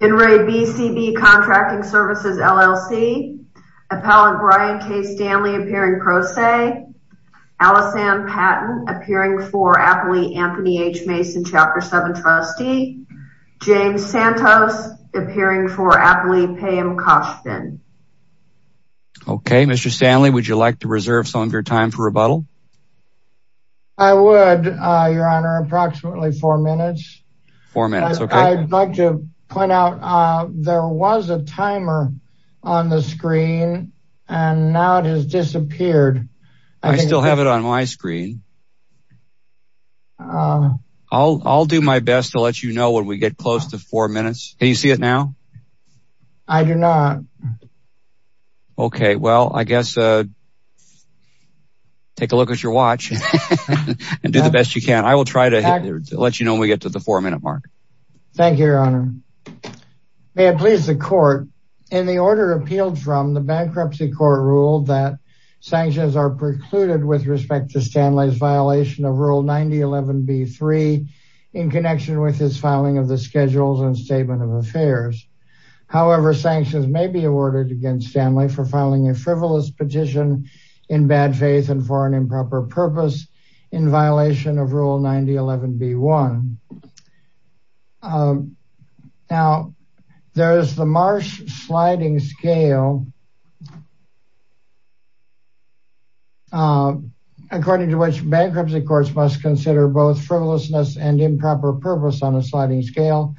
In re. BCB CONTRACTING SERVICES, LLC Appellant Brian K. Stanley appearing pro se Allison Patton appearing for Appley Anthony H. Mason Chapter 7 trustee James Santos appearing for Appley Payam Kashfin Okay, Mr. Stanley, would you like to reserve some of your time for rebuttal? I would, Your Honor, approximately four minutes Four minutes, okay I'd like to point out there was a timer on the screen and now it has disappeared I still have it on my screen I'll do my best to let you know when we get close to four minutes Can you see it now? I do not Okay, well, I guess take a look at your watch and do the best you can I will try to let you know when we get to the four-minute mark Thank you, Your Honor May it please the court In the order appealed from, the Bankruptcy Court ruled that sanctions are precluded with respect to Stanley's violation of Rule 9011B3 in connection with his filing of the Schedules and Statement of Affairs However, sanctions may be awarded against Stanley for filing a frivolous petition in bad faith and for an improper purpose in violation of Rule 9011B1 Now, there is the Marsh sliding scale According to which Bankruptcy Courts must consider both frivolousness and improper purpose on a sliding scale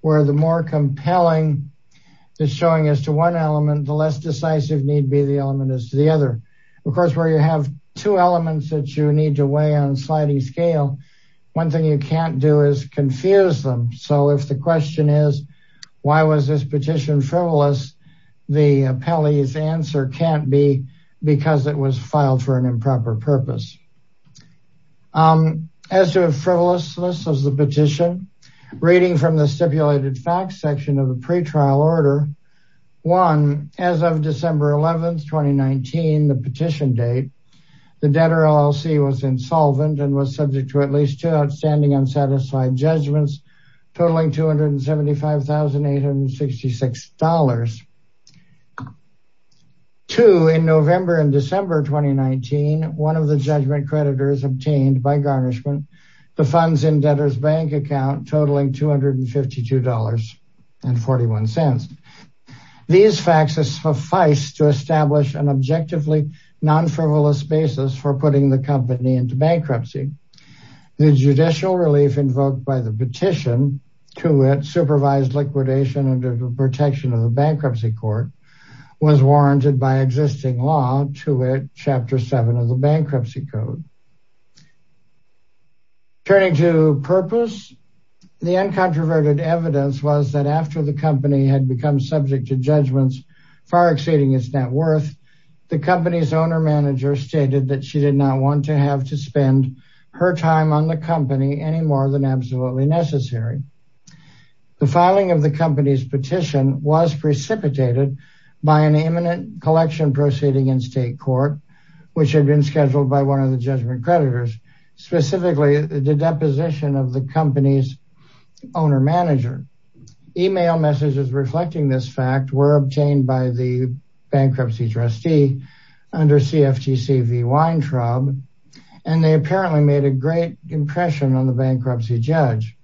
Where the more compelling is showing us to one element, the less decisive need be the element is to the other Of course, where you have two elements that you need to weigh on sliding scale One thing you can't do is confuse them So if the question is, why was this petition frivolous? The appellee's answer can't be because it was filed for an improper purpose As to frivolousness of the petition, reading from the stipulated facts section of the pretrial order One, as of December 11th, 2019, the petition date The debtor LLC was insolvent and was subject to at least two outstanding unsatisfied judgments Totaling $275,866 Two, in November and December 2019, one of the judgment creditors obtained by garnishment The funds in debtor's bank account totaling $252.41 These facts suffice to establish an objectively non-frivolous basis for putting the company into bankruptcy The judicial relief invoked by the petition to it, supervised liquidation under the protection of the Bankruptcy Court Was warranted by existing law to it, Chapter 7 of the Bankruptcy Code Turning to purpose, the uncontroverted evidence was that after the company had become subject to judgments Far exceeding its net worth, the company's owner-manager stated that she did not want to have to spend Her time on the company any more than absolutely necessary The filing of the company's petition was precipitated by an imminent collection proceeding in state court Which had been scheduled by one of the judgment creditors, specifically the deposition of the company's owner-manager Email messages reflecting this fact were obtained by the bankruptcy trustee under CFTC v. Weintraub And they apparently made a great impression on the bankruptcy judge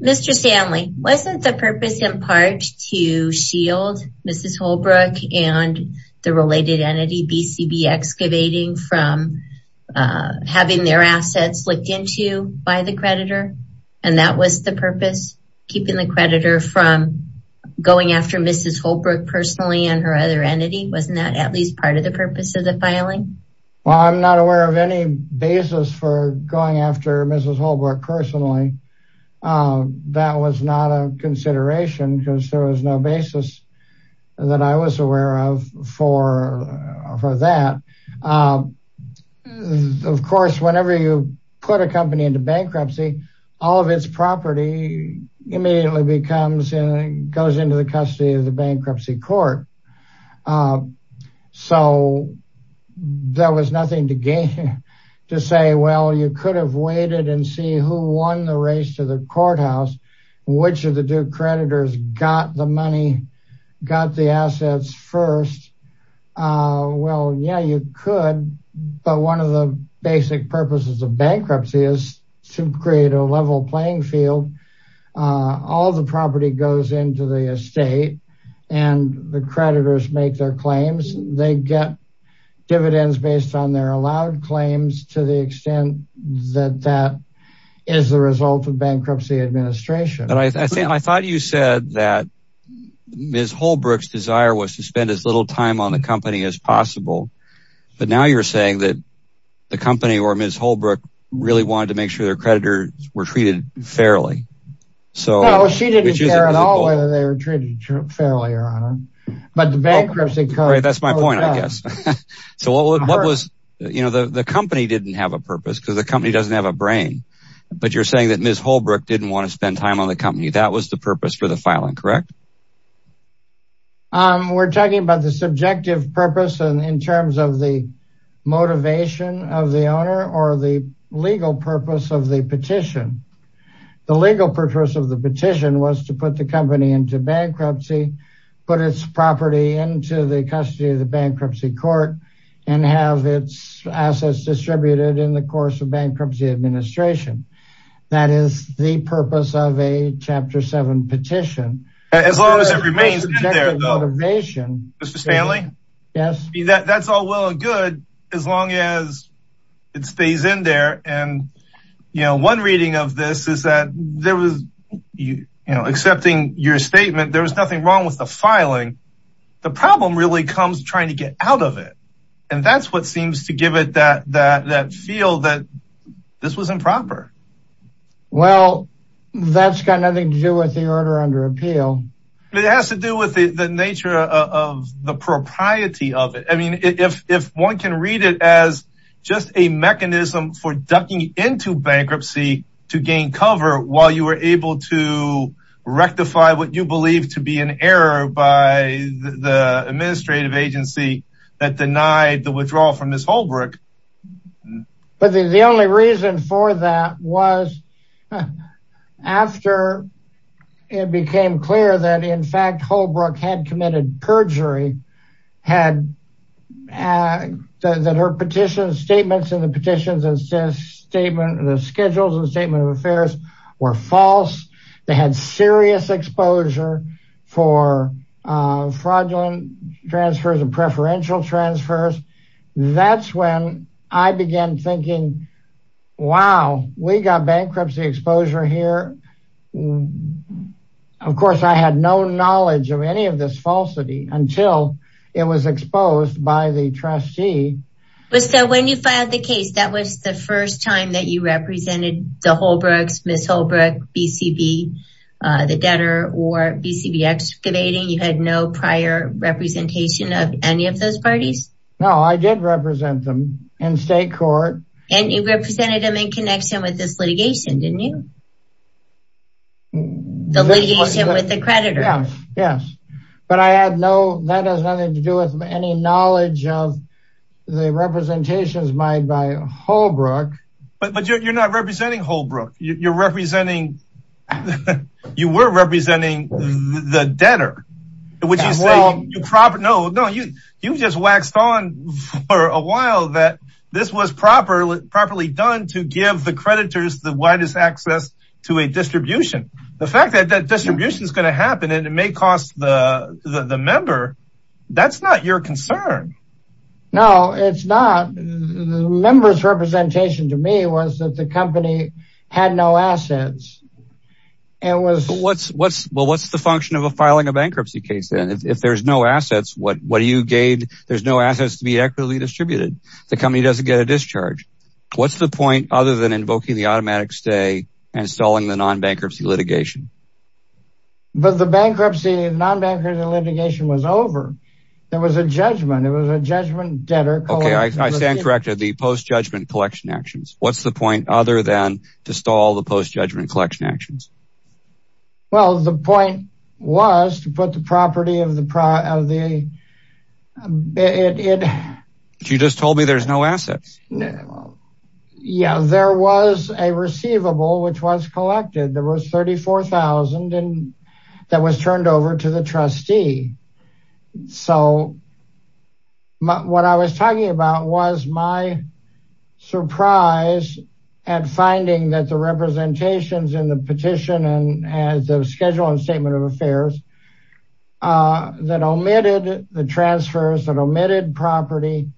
Mr. Stanley, wasn't the purpose in part to shield Mrs. Holbrook and the related entity, BCB Excavating From having their assets licked into by the creditor? And that was the purpose? Keeping the creditor from going after Mrs. Holbrook personally and her other entity? Wasn't that at least part of the purpose of the filing? Well, I'm not aware of any basis for going after Mrs. Holbrook personally That was not a consideration because there was no basis that I was aware of for that Of course, whenever you put a company into bankruptcy, all of its property immediately goes into the custody of the bankruptcy court So there was nothing to say, well, you could have waited and see who won the race to the courthouse Which of the due creditors got the money, got the assets first Well, yeah, you could, but one of the basic purposes of bankruptcy is to create a level playing field All the property goes into the estate and the creditors make their claims They get dividends based on their allowed claims to the extent that that is the result of bankruptcy administration I thought you said that Mrs. Holbrook's desire was to spend as little time on the company as possible But now you're saying that the company or Mrs. Holbrook really wanted to make sure their creditors were treated fairly No, she didn't care at all whether they were treated fairly or not That's my point, I guess The company didn't have a purpose because the company doesn't have a brain But you're saying that Mrs. Holbrook didn't want to spend time on the company That was the purpose for the filing, correct? We're talking about the subjective purpose in terms of the motivation of the owner or the legal purpose of the petition The legal purpose of the petition was to put the company into bankruptcy Put its property into the custody of the bankruptcy court and have its assets distributed in the course of bankruptcy administration That is the purpose of a Chapter 7 petition As long as it remains in there though Mr. Stanley? Yes That's all well and good as long as it stays in there And one reading of this is that there was, accepting your statement, there was nothing wrong with the filing The problem really comes trying to get out of it And that's what seems to give it that feel that this was improper Well, that's got nothing to do with the order under appeal It has to do with the nature of the propriety of it I mean, if one can read it as just a mechanism for ducking into bankruptcy to gain cover While you were able to rectify what you believe to be an error by the administrative agency that denied the withdrawal from Mrs. Holbrook But the only reason for that was after it became clear that in fact Holbrook had committed perjury That her petitions, statements in the petitions and the schedules and statement of affairs were false They had serious exposure for fraudulent transfers and preferential transfers That's when I began thinking, wow, we got bankruptcy exposure here Of course, I had no knowledge of any of this falsity until it was exposed by the trustee So when you filed the case, that was the first time that you represented the Holbrooks, Mrs. Holbrook, BCB, the debtor or BCB excavating You had no prior representation of any of those parties? No, I did represent them in state court And you represented them in connection with this litigation, didn't you? The litigation with the creditor Yes, yes, but I had no, that has nothing to do with any knowledge of the representations made by Holbrook But you're not representing Holbrook, you're representing, you were representing the debtor You just waxed on for a while that this was properly done to give the creditors the widest access to a distribution The fact that that distribution is going to happen and it may cost the member, that's not your concern No, it's not, the member's representation to me was that the company had no assets Well, what's the function of filing a bankruptcy case then? If there's no assets, what do you gain? There's no assets to be equitably distributed The company doesn't get a discharge What's the point other than invoking the automatic stay and stalling the non-bankruptcy litigation? But the bankruptcy, non-bankruptcy litigation was over There was a judgment, there was a judgment debtor Okay, I stand corrected, the post-judgment collection actions What's the point other than to stall the post-judgment collection actions? Well, the point was to put the property of the You just told me there's no assets Yeah, there was a receivable which was collected, there was $34,000 that was turned over to the trustee So, what I was talking about was my surprise at finding that the representations in the petition and the schedule and statement of affairs that omitted the transfers, that omitted property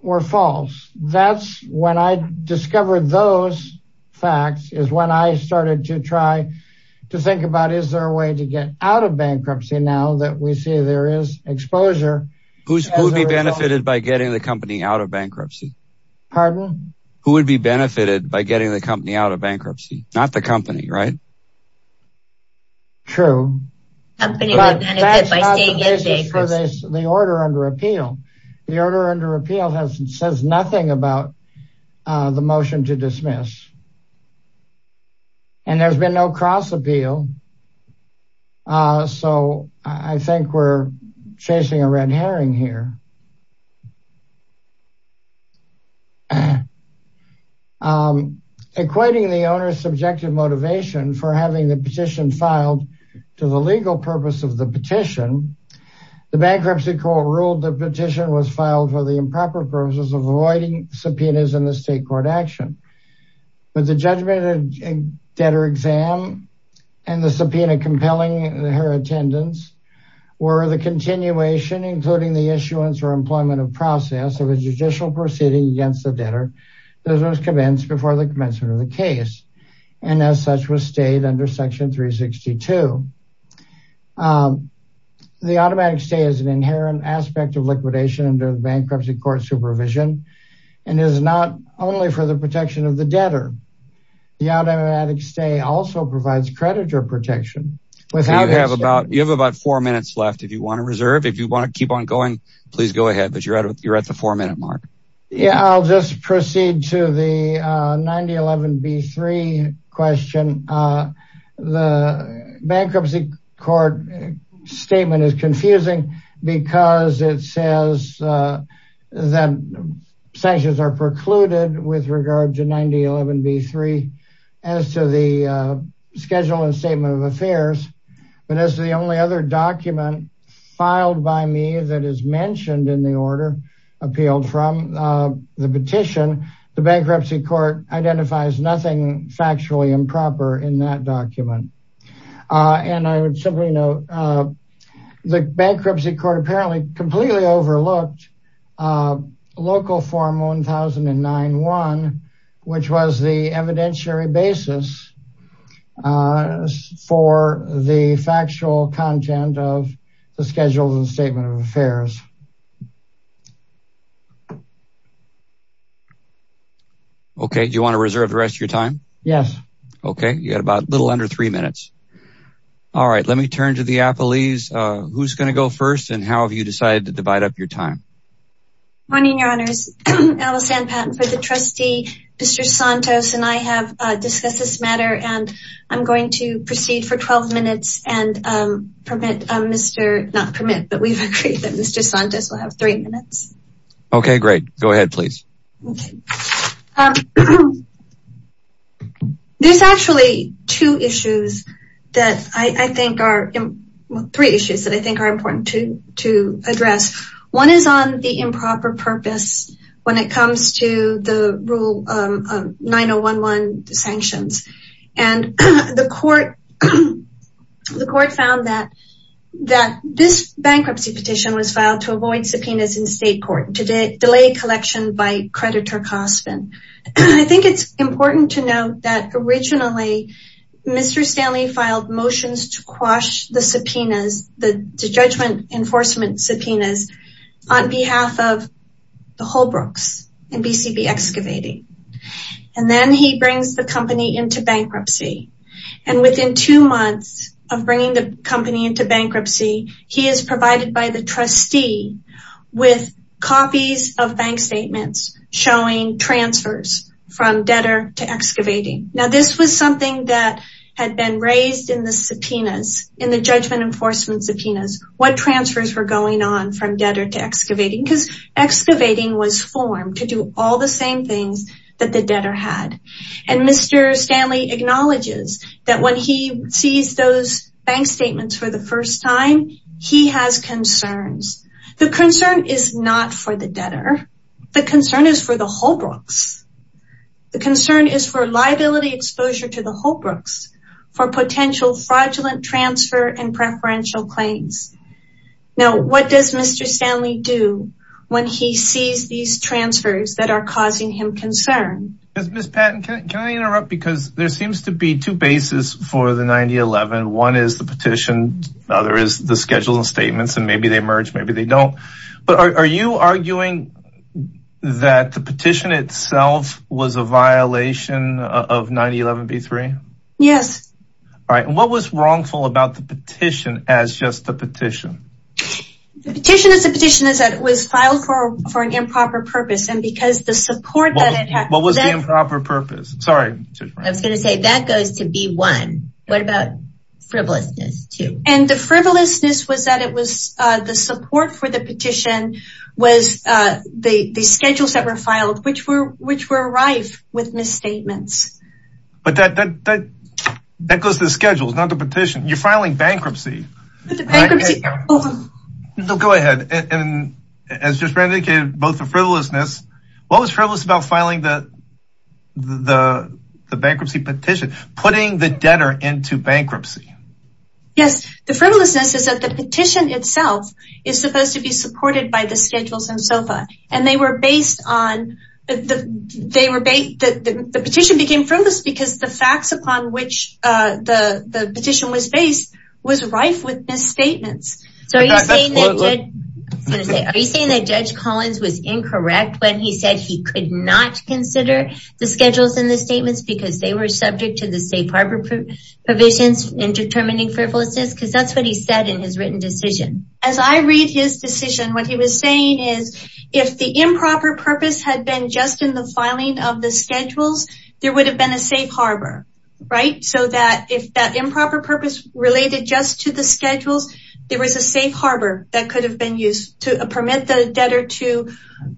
were false That's when I discovered those facts is when I started to try to think about Is there a way to get out of bankruptcy now that we see there is exposure? Who would be benefited by getting the company out of bankruptcy? Pardon? Who would be benefited by getting the company out of bankruptcy? Not the company, right? True But that's not the basis for the order under appeal The order under appeal says nothing about the motion to dismiss And there's been no cross appeal So, I think we're chasing a red herring here Equating the owner's subjective motivation for having the petition filed to the legal purpose of the petition The bankruptcy court ruled the petition was filed for the improper purposes of avoiding subpoenas in the state court action But the judgment of debtor exam and the subpoena compelling her attendance Were the continuation including the issuance or employment of process of a judicial proceeding against the debtor That was commenced before the commencement of the case And as such was stayed under section 362 The automatic stay is an inherent aspect of liquidation under bankruptcy court supervision And is not only for the protection of the debtor The automatic stay also provides creditor protection You have about four minutes left if you want to reserve If you want to keep on going, please go ahead But you're at the four minute mark Yeah, I'll just proceed to the 9011B3 question The bankruptcy court statement is confusing Because it says that sanctions are precluded with regard to 9011B3 As to the schedule and statement of affairs But as the only other document filed by me that is mentioned in the order Appealed from the petition The bankruptcy court identifies nothing factually improper in that document And I would simply note The bankruptcy court apparently completely overlooked local form 1091 Which was the evidentiary basis for the factual content of the schedule and statement of affairs Okay, do you want to reserve the rest of your time? Yes Okay, you have a little under three minutes All right, let me turn to the appellees Who's going to go first and how have you decided to divide up your time? Good morning, your honors Alice Ann Patton for the trustee Mr. Santos and I have discussed this matter And I'm going to proceed for 12 minutes And permit Mr. Not permit, but we've agreed that Mr. Santos will have three minutes Okay, great, go ahead please Okay There's actually two issues That I think are Three issues that I think are important to address One is on the improper purpose When it comes to the rule of 9011 sanctions And the court The court found that That this bankruptcy petition was filed to avoid subpoenas in state court To delay collection by creditor Cospin I think it's important to note that originally Mr. Stanley filed motions to quash the subpoenas The judgment enforcement subpoenas On behalf of the Holbrooks And BCB Excavating And then he brings the company into bankruptcy And within two months Of bringing the company into bankruptcy He is provided by the trustee With copies of bank statements Showing transfers from debtor to excavating Now this was something that had been raised in the subpoenas In the judgment enforcement subpoenas What transfers were going on from debtor to excavating Because excavating was formed to do all the same things That the debtor had And Mr. Stanley acknowledges That when he sees those bank statements for the first time He has concerns The concern is not for the debtor The concern is for the Holbrooks The concern is for liability exposure to the Holbrooks For potential fraudulent transfer and preferential claims Now what does Mr. Stanley do When he sees these transfers that are causing him concern Ms. Patton, can I interrupt Because there seems to be two bases for the 9011 One is the petition The other is the schedules and statements And maybe they merge, maybe they don't But are you arguing that the petition itself Was a violation of 9011B3? Yes Alright, and what was wrongful about the petition As just the petition? The petition is a petition that was filed for an improper purpose And because the support that it had What was the improper purpose? Sorry I was going to say that goes to B1 What about frivolousness 2? And the frivolousness was that it was The support for the petition Was the schedules that were filed Which were arrived with misstatements But that goes to the schedules, not the petition You're filing bankruptcy Bankruptcy Go ahead And as just Randi indicated, both the frivolousness What was frivolous about filing the bankruptcy petition? Putting the debtor into bankruptcy Yes, the frivolousness is that the petition itself Is supposed to be supported by the schedules and SOFA And they were based on The petition became frivolous Because the facts upon which the petition was based Was rife with misstatements So are you saying that Judge Collins was incorrect When he said he could not consider The schedules and the statements Because they were subject to the safe harbor provisions In determining frivolousness? Because that's what he said in his written decision As I read his decision, what he was saying is If the improper purpose had been just in the filing of the schedules There would have been a safe harbor So that if that improper purpose related just to the schedules There was a safe harbor that could have been used To permit the debtor to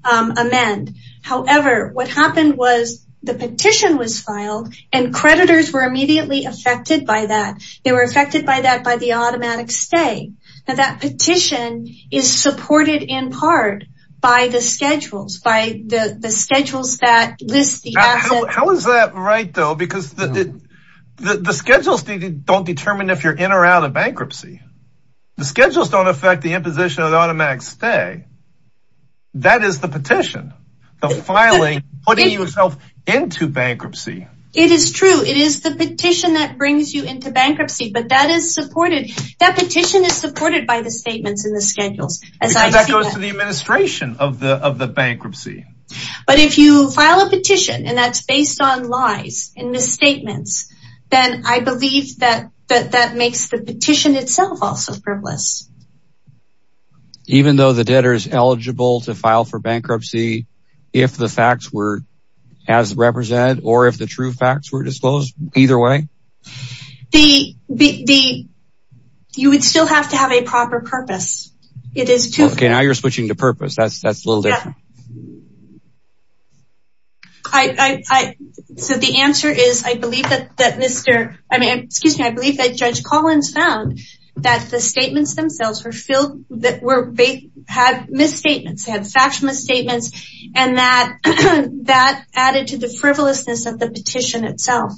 amend However, what happened was The petition was filed And creditors were immediately affected by that They were affected by that by the automatic stay Now that petition is supported in part By the schedules By the schedules that list the assets How is that right though? Because the schedules don't determine if you're in or out of bankruptcy The schedules don't affect the imposition of automatic stay That is the petition The filing, putting yourself into bankruptcy It is true, it is the petition that brings you into bankruptcy But that is supported That petition is supported by the statements and the schedules Because that goes to the administration of the bankruptcy But if you file a petition And that's based on lies and misstatements Then I believe that makes the petition itself also frivolous Even though the debtor is eligible to file for bankruptcy If the facts were as represented Or if the true facts were disclosed, either way? You would still have to have a proper purpose Okay, now you're switching to purpose That's a little different So the answer is I believe that Judge Collins found That the statements themselves had misstatements They had factual misstatements And that added to the frivolousness of the petition itself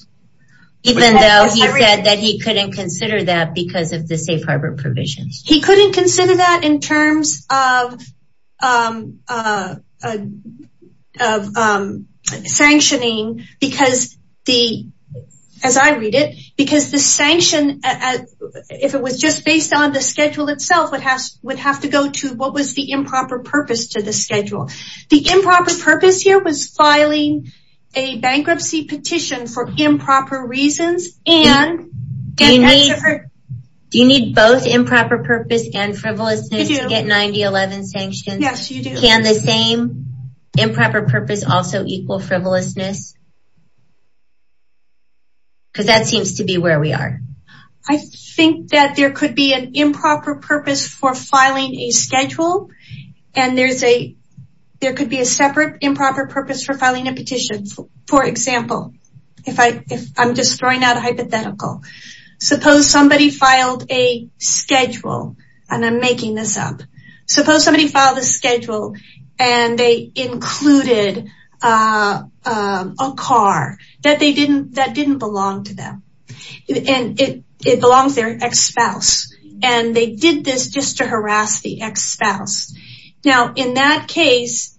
Even though he said that he couldn't consider that because of the safe harbor provisions He couldn't consider that in terms of Sanctioning Because the As I read it Because the sanction If it was just based on the schedule itself Would have to go to what was the improper purpose to the schedule The improper purpose here was filing a bankruptcy petition for improper reasons And Do you need both improper purpose and frivolousness to get 9011 sanctions? Yes, you do Can the same improper purpose also equal frivolousness? Because that seems to be where we are I think that there could be an improper purpose for filing a schedule And there could be a separate improper purpose for filing a petition For example If I'm just throwing out a hypothetical Suppose somebody filed a schedule And I'm making this up Suppose somebody filed a schedule And they included A car that they didn't that didn't belong to them And it belongs there Ex-spouse And they did this just to harass the ex-spouse Now in that case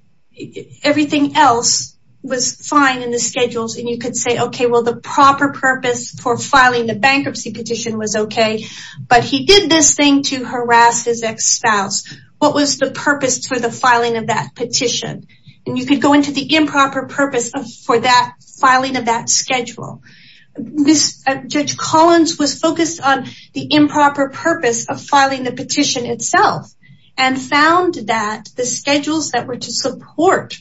Everything else was fine in the schedules And you could say, okay, well, the proper purpose for filing the bankruptcy petition was okay But he did this thing to harass his ex-spouse What was the purpose for the filing of that petition? And you could go into the improper purpose for that filing of that schedule Judge Collins was focused on the improper purpose of filing the petition itself And found that the schedules that were to support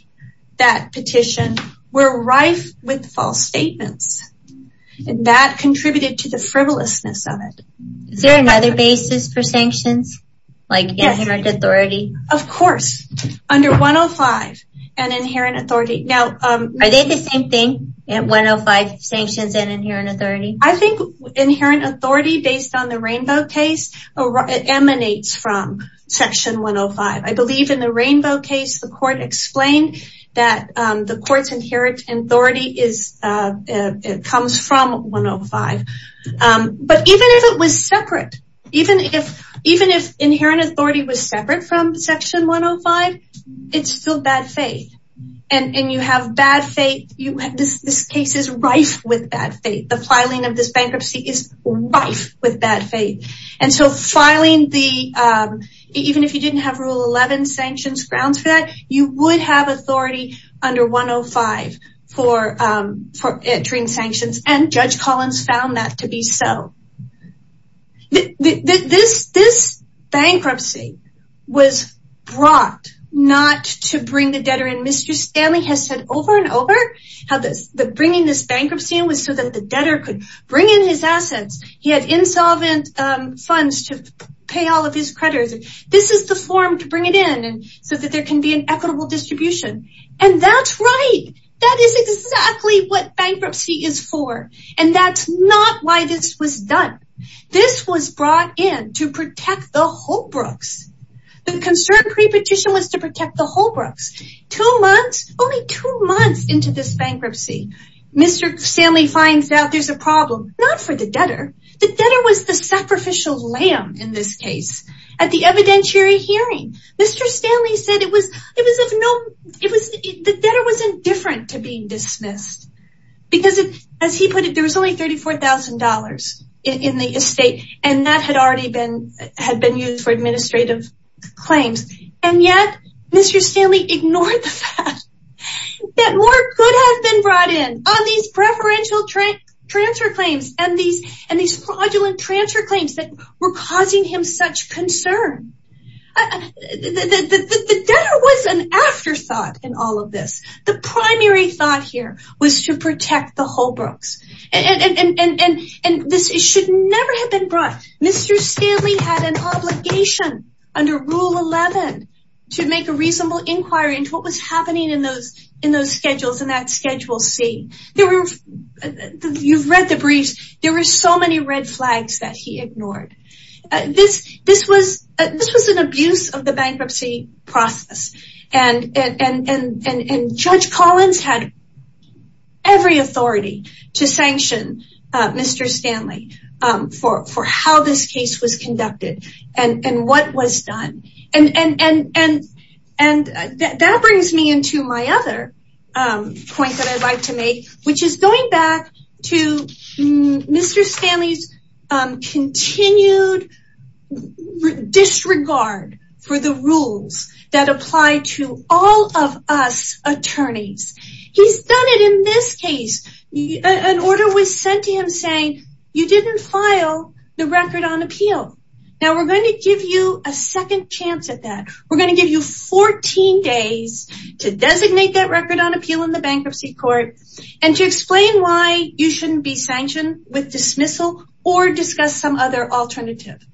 that petition Were rife with false statements And that contributed to the frivolousness of it Is there another basis for sanctions? Like inherent authority? Of course Under 105 And inherent authority Are they the same thing? 105 sanctions and inherent authority? I think inherent authority based on the Rainbow case It emanates from section 105 I believe in the Rainbow case the court explained That the court's inherent authority Comes from 105 But even if it was separate Even if inherent authority was separate from section 105 It's still bad faith And you have bad faith This case is rife with bad faith The filing of this bankruptcy is rife with bad faith And so filing the Even if you didn't have rule 11 sanctions grounds for that You would have authority under 105 For entering sanctions And Judge Collins found that to be so This bankruptcy was brought Not to bring the debtor in Mr. Stanley has said over and over That bringing this bankruptcy in Was so that the debtor could bring in his assets He had insolvent funds to pay all of his creditors This is the form to bring it in So that there can be an equitable distribution And that's right! That is exactly what bankruptcy is for And that's not why this was done This was brought in to protect the Holbrooks The concern pre-petition was to protect the Holbrooks Two months, only two months into this bankruptcy Mr. Stanley finds out there's a problem Not for the debtor The debtor was the sacrificial lamb in this case At the evidentiary hearing Mr. Stanley said it was of no The debtor was indifferent to being dismissed Because as he put it There was only $34,000 in the estate And that had already been used for administrative claims And yet Mr. Stanley ignored the fact That more could have been brought in On these preferential transfer claims And these fraudulent transfer claims That were causing him such concern The debtor was an afterthought in all of this The primary thought here Was to protect the Holbrooks And this should never have been brought Mr. Stanley had an obligation Under Rule 11 To make a reasonable inquiry Into what was happening in those schedules In that Schedule C You've read the briefs There were so many red flags that he ignored This was an abuse of the bankruptcy process And Judge Collins had every authority To sanction Mr. Stanley For how this case was conducted And what was done And that brings me into my other point That I'd like to make Which is going back to Mr. Stanley's Continued disregard for the rules That apply to all of us attorneys He's done it in this case An order was sent to him saying You didn't file the record on appeal Now we're going to give you a second chance at that We're going to give you 14 days To designate that record on appeal in the bankruptcy court And to explain why you shouldn't be sanctioned With dismissal Or discuss some other alternative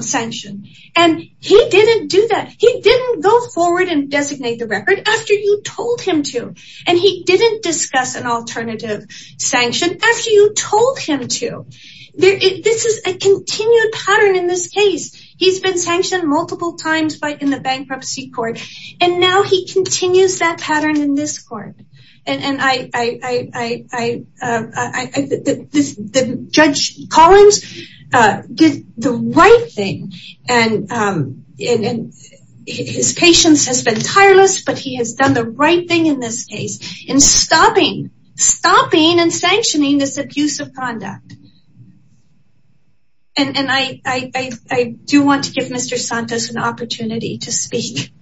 sanction And he didn't do that He didn't go forward and designate the record After you told him to And he didn't discuss an alternative sanction After you told him to This is a continued pattern in this case He's been sanctioned multiple times in the bankruptcy court And now he continues that pattern in this court And I... Judge Collins did the right thing And his patience has been tireless But he has done the right thing in this case In stopping and sanctioning this abuse of conduct And I do want to give Mr. Santos an opportunity to speak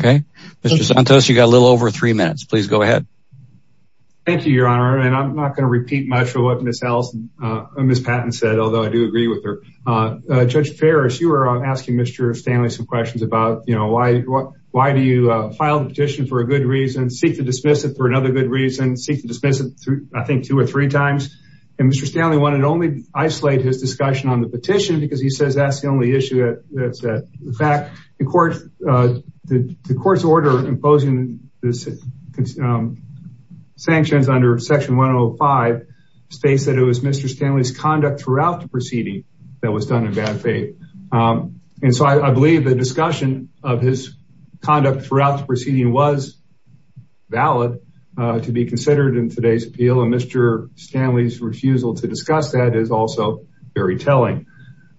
Okay Mr. Santos, you've got a little over three minutes Please go ahead Thank you, your honor And I'm not going to repeat much of what Ms. Patton said Although I do agree with her Judge Ferris, you were asking Mr. Stanley some questions about You know, why do you file the petition for a good reason Seek to dismiss it for another good reason Seek to dismiss it, I think, two or three times And Mr. Stanley wanted to only isolate his discussion on the petition Because he says that's the only issue In fact, the court's order imposing the sanctions under section 105 States that it was Mr. Stanley's conduct throughout the proceeding That was done in bad faith And so I believe the discussion of his conduct throughout the proceeding Was valid to be considered in today's appeal And Mr. Stanley's refusal to discuss that is also very telling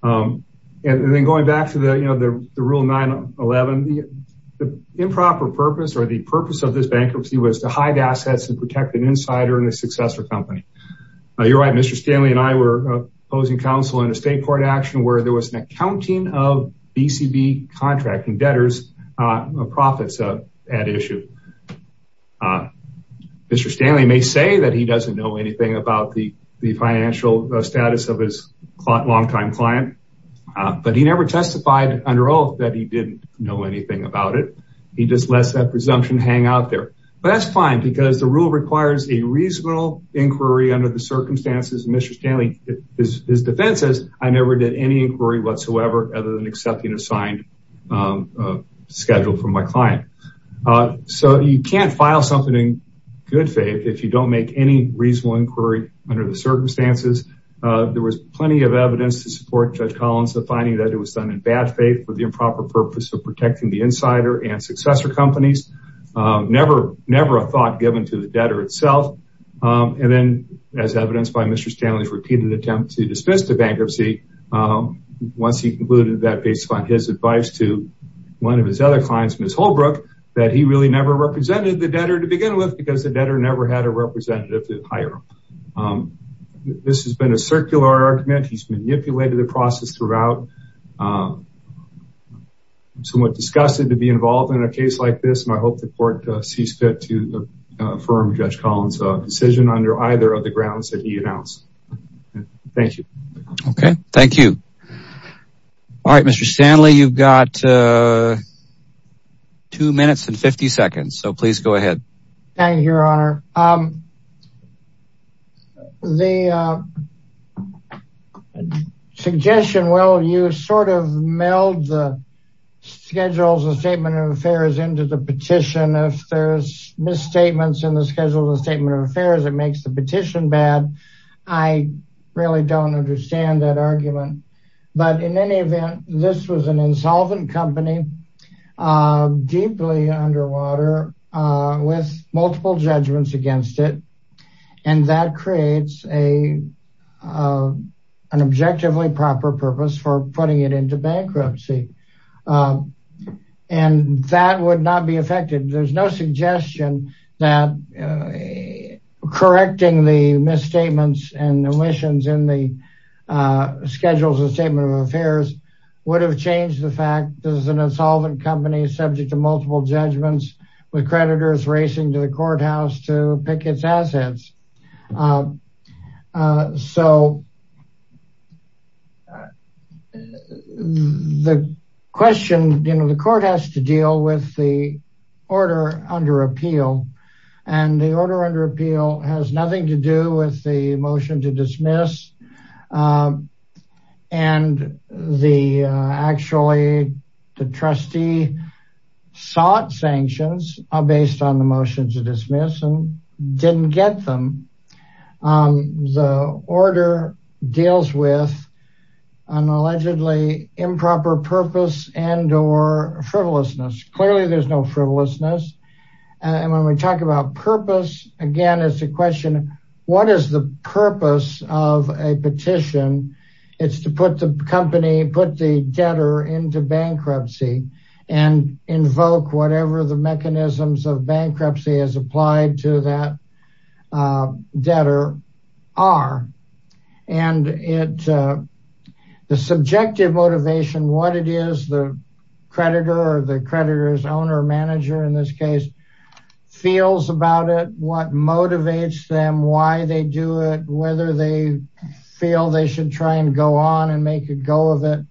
And then going back to the, you know, the rule 9-11 The improper purpose or the purpose of this bankruptcy Was to hide assets and protect an insider and a successor company You're right, Mr. Stanley and I were opposing counsel in a state court action Where there was an accounting of BCB contracting debtors Profits at issue Mr. Stanley may say that he doesn't know anything About the financial status of his long-time client But he never testified under oath that he didn't know anything about it He just lets that presumption hang out there But that's fine because the rule requires a reasonable inquiry Under the circumstances Mr. Stanley, his defense says I never did any inquiry whatsoever Other than accepting a signed schedule from my client So you can't file something in good faith If you don't make any reasonable inquiry under the circumstances There was plenty of evidence to support Judge Collins The finding that it was done in bad faith For the improper purpose of protecting the insider and successor companies Never a thought given to the debtor itself And then as evidenced by Mr. Stanley's repeated attempt to dismiss the bankruptcy Once he concluded that based on his advice to one of his other clients Ms. Holbrook, that he really never represented the debtor to begin with Just because the debtor never had a representative to hire him This has been a circular argument He's manipulated the process throughout I'm somewhat disgusted to be involved in a case like this And I hope the court sees fit to affirm Judge Collins' decision Under either of the grounds that he announced Thank you Okay, thank you Alright Mr. Stanley, you've got 2 minutes and 50 seconds So please go ahead Thank you your honor The suggestion, well you sort of meld the schedules and statement of affairs Into the petition If there's misstatements in the schedules and statement of affairs It makes the petition bad I really don't understand that argument But in any event, this was an insolvent company Deeply underwater with multiple judgments against it And that creates an objectively proper purpose for putting it into bankruptcy And that would not be effective There's no suggestion that correcting the misstatements and omissions In the schedules and statement of affairs Would have changed the fact that this is an insolvent company Subject to multiple judgments With creditors racing to the courthouse to pick its assets The court has to deal with the order under appeal And the order under appeal has nothing to do with the motion to dismiss And the actually the trustee sought sanctions Based on the motion to dismiss and didn't get them The order deals with an allegedly improper purpose and or frivolousness Clearly there's no frivolousness And when we talk about purpose again It's a question of what is the purpose of a petition It's to put the company put the debtor into bankruptcy And invoke whatever the mechanisms of bankruptcy As applied to that debtor are And the subjective motivation what it is The creditor or the creditors owner manager in this case Feels about it what motivates them why they do it Whether they feel they should try and go on and make a go of it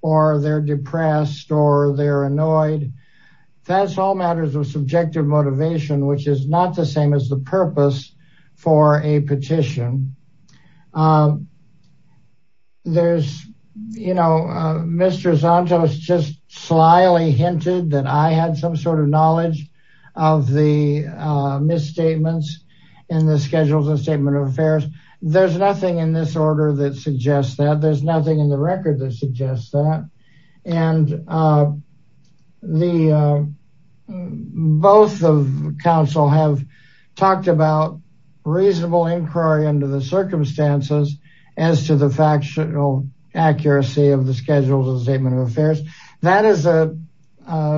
Or they're depressed or they're annoyed That's all matters of subjective motivation Which is not the same as the purpose for a petition There's, you know, Mr. Santos just slyly hinted That I had some sort of knowledge of the misstatements And the schedules and statement of affairs There's nothing in this order that suggests that There's nothing in the record that suggests that And the both of council have talked about Reasonable inquiry under the circumstances As to the factual accuracy of the schedules and statement of affairs That is a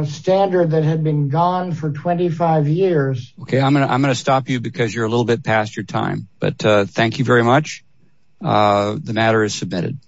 standard that had been gone for 25 years Okay, I'm going to stop you because you're a little bit past your time But thank you very much The matter is submitted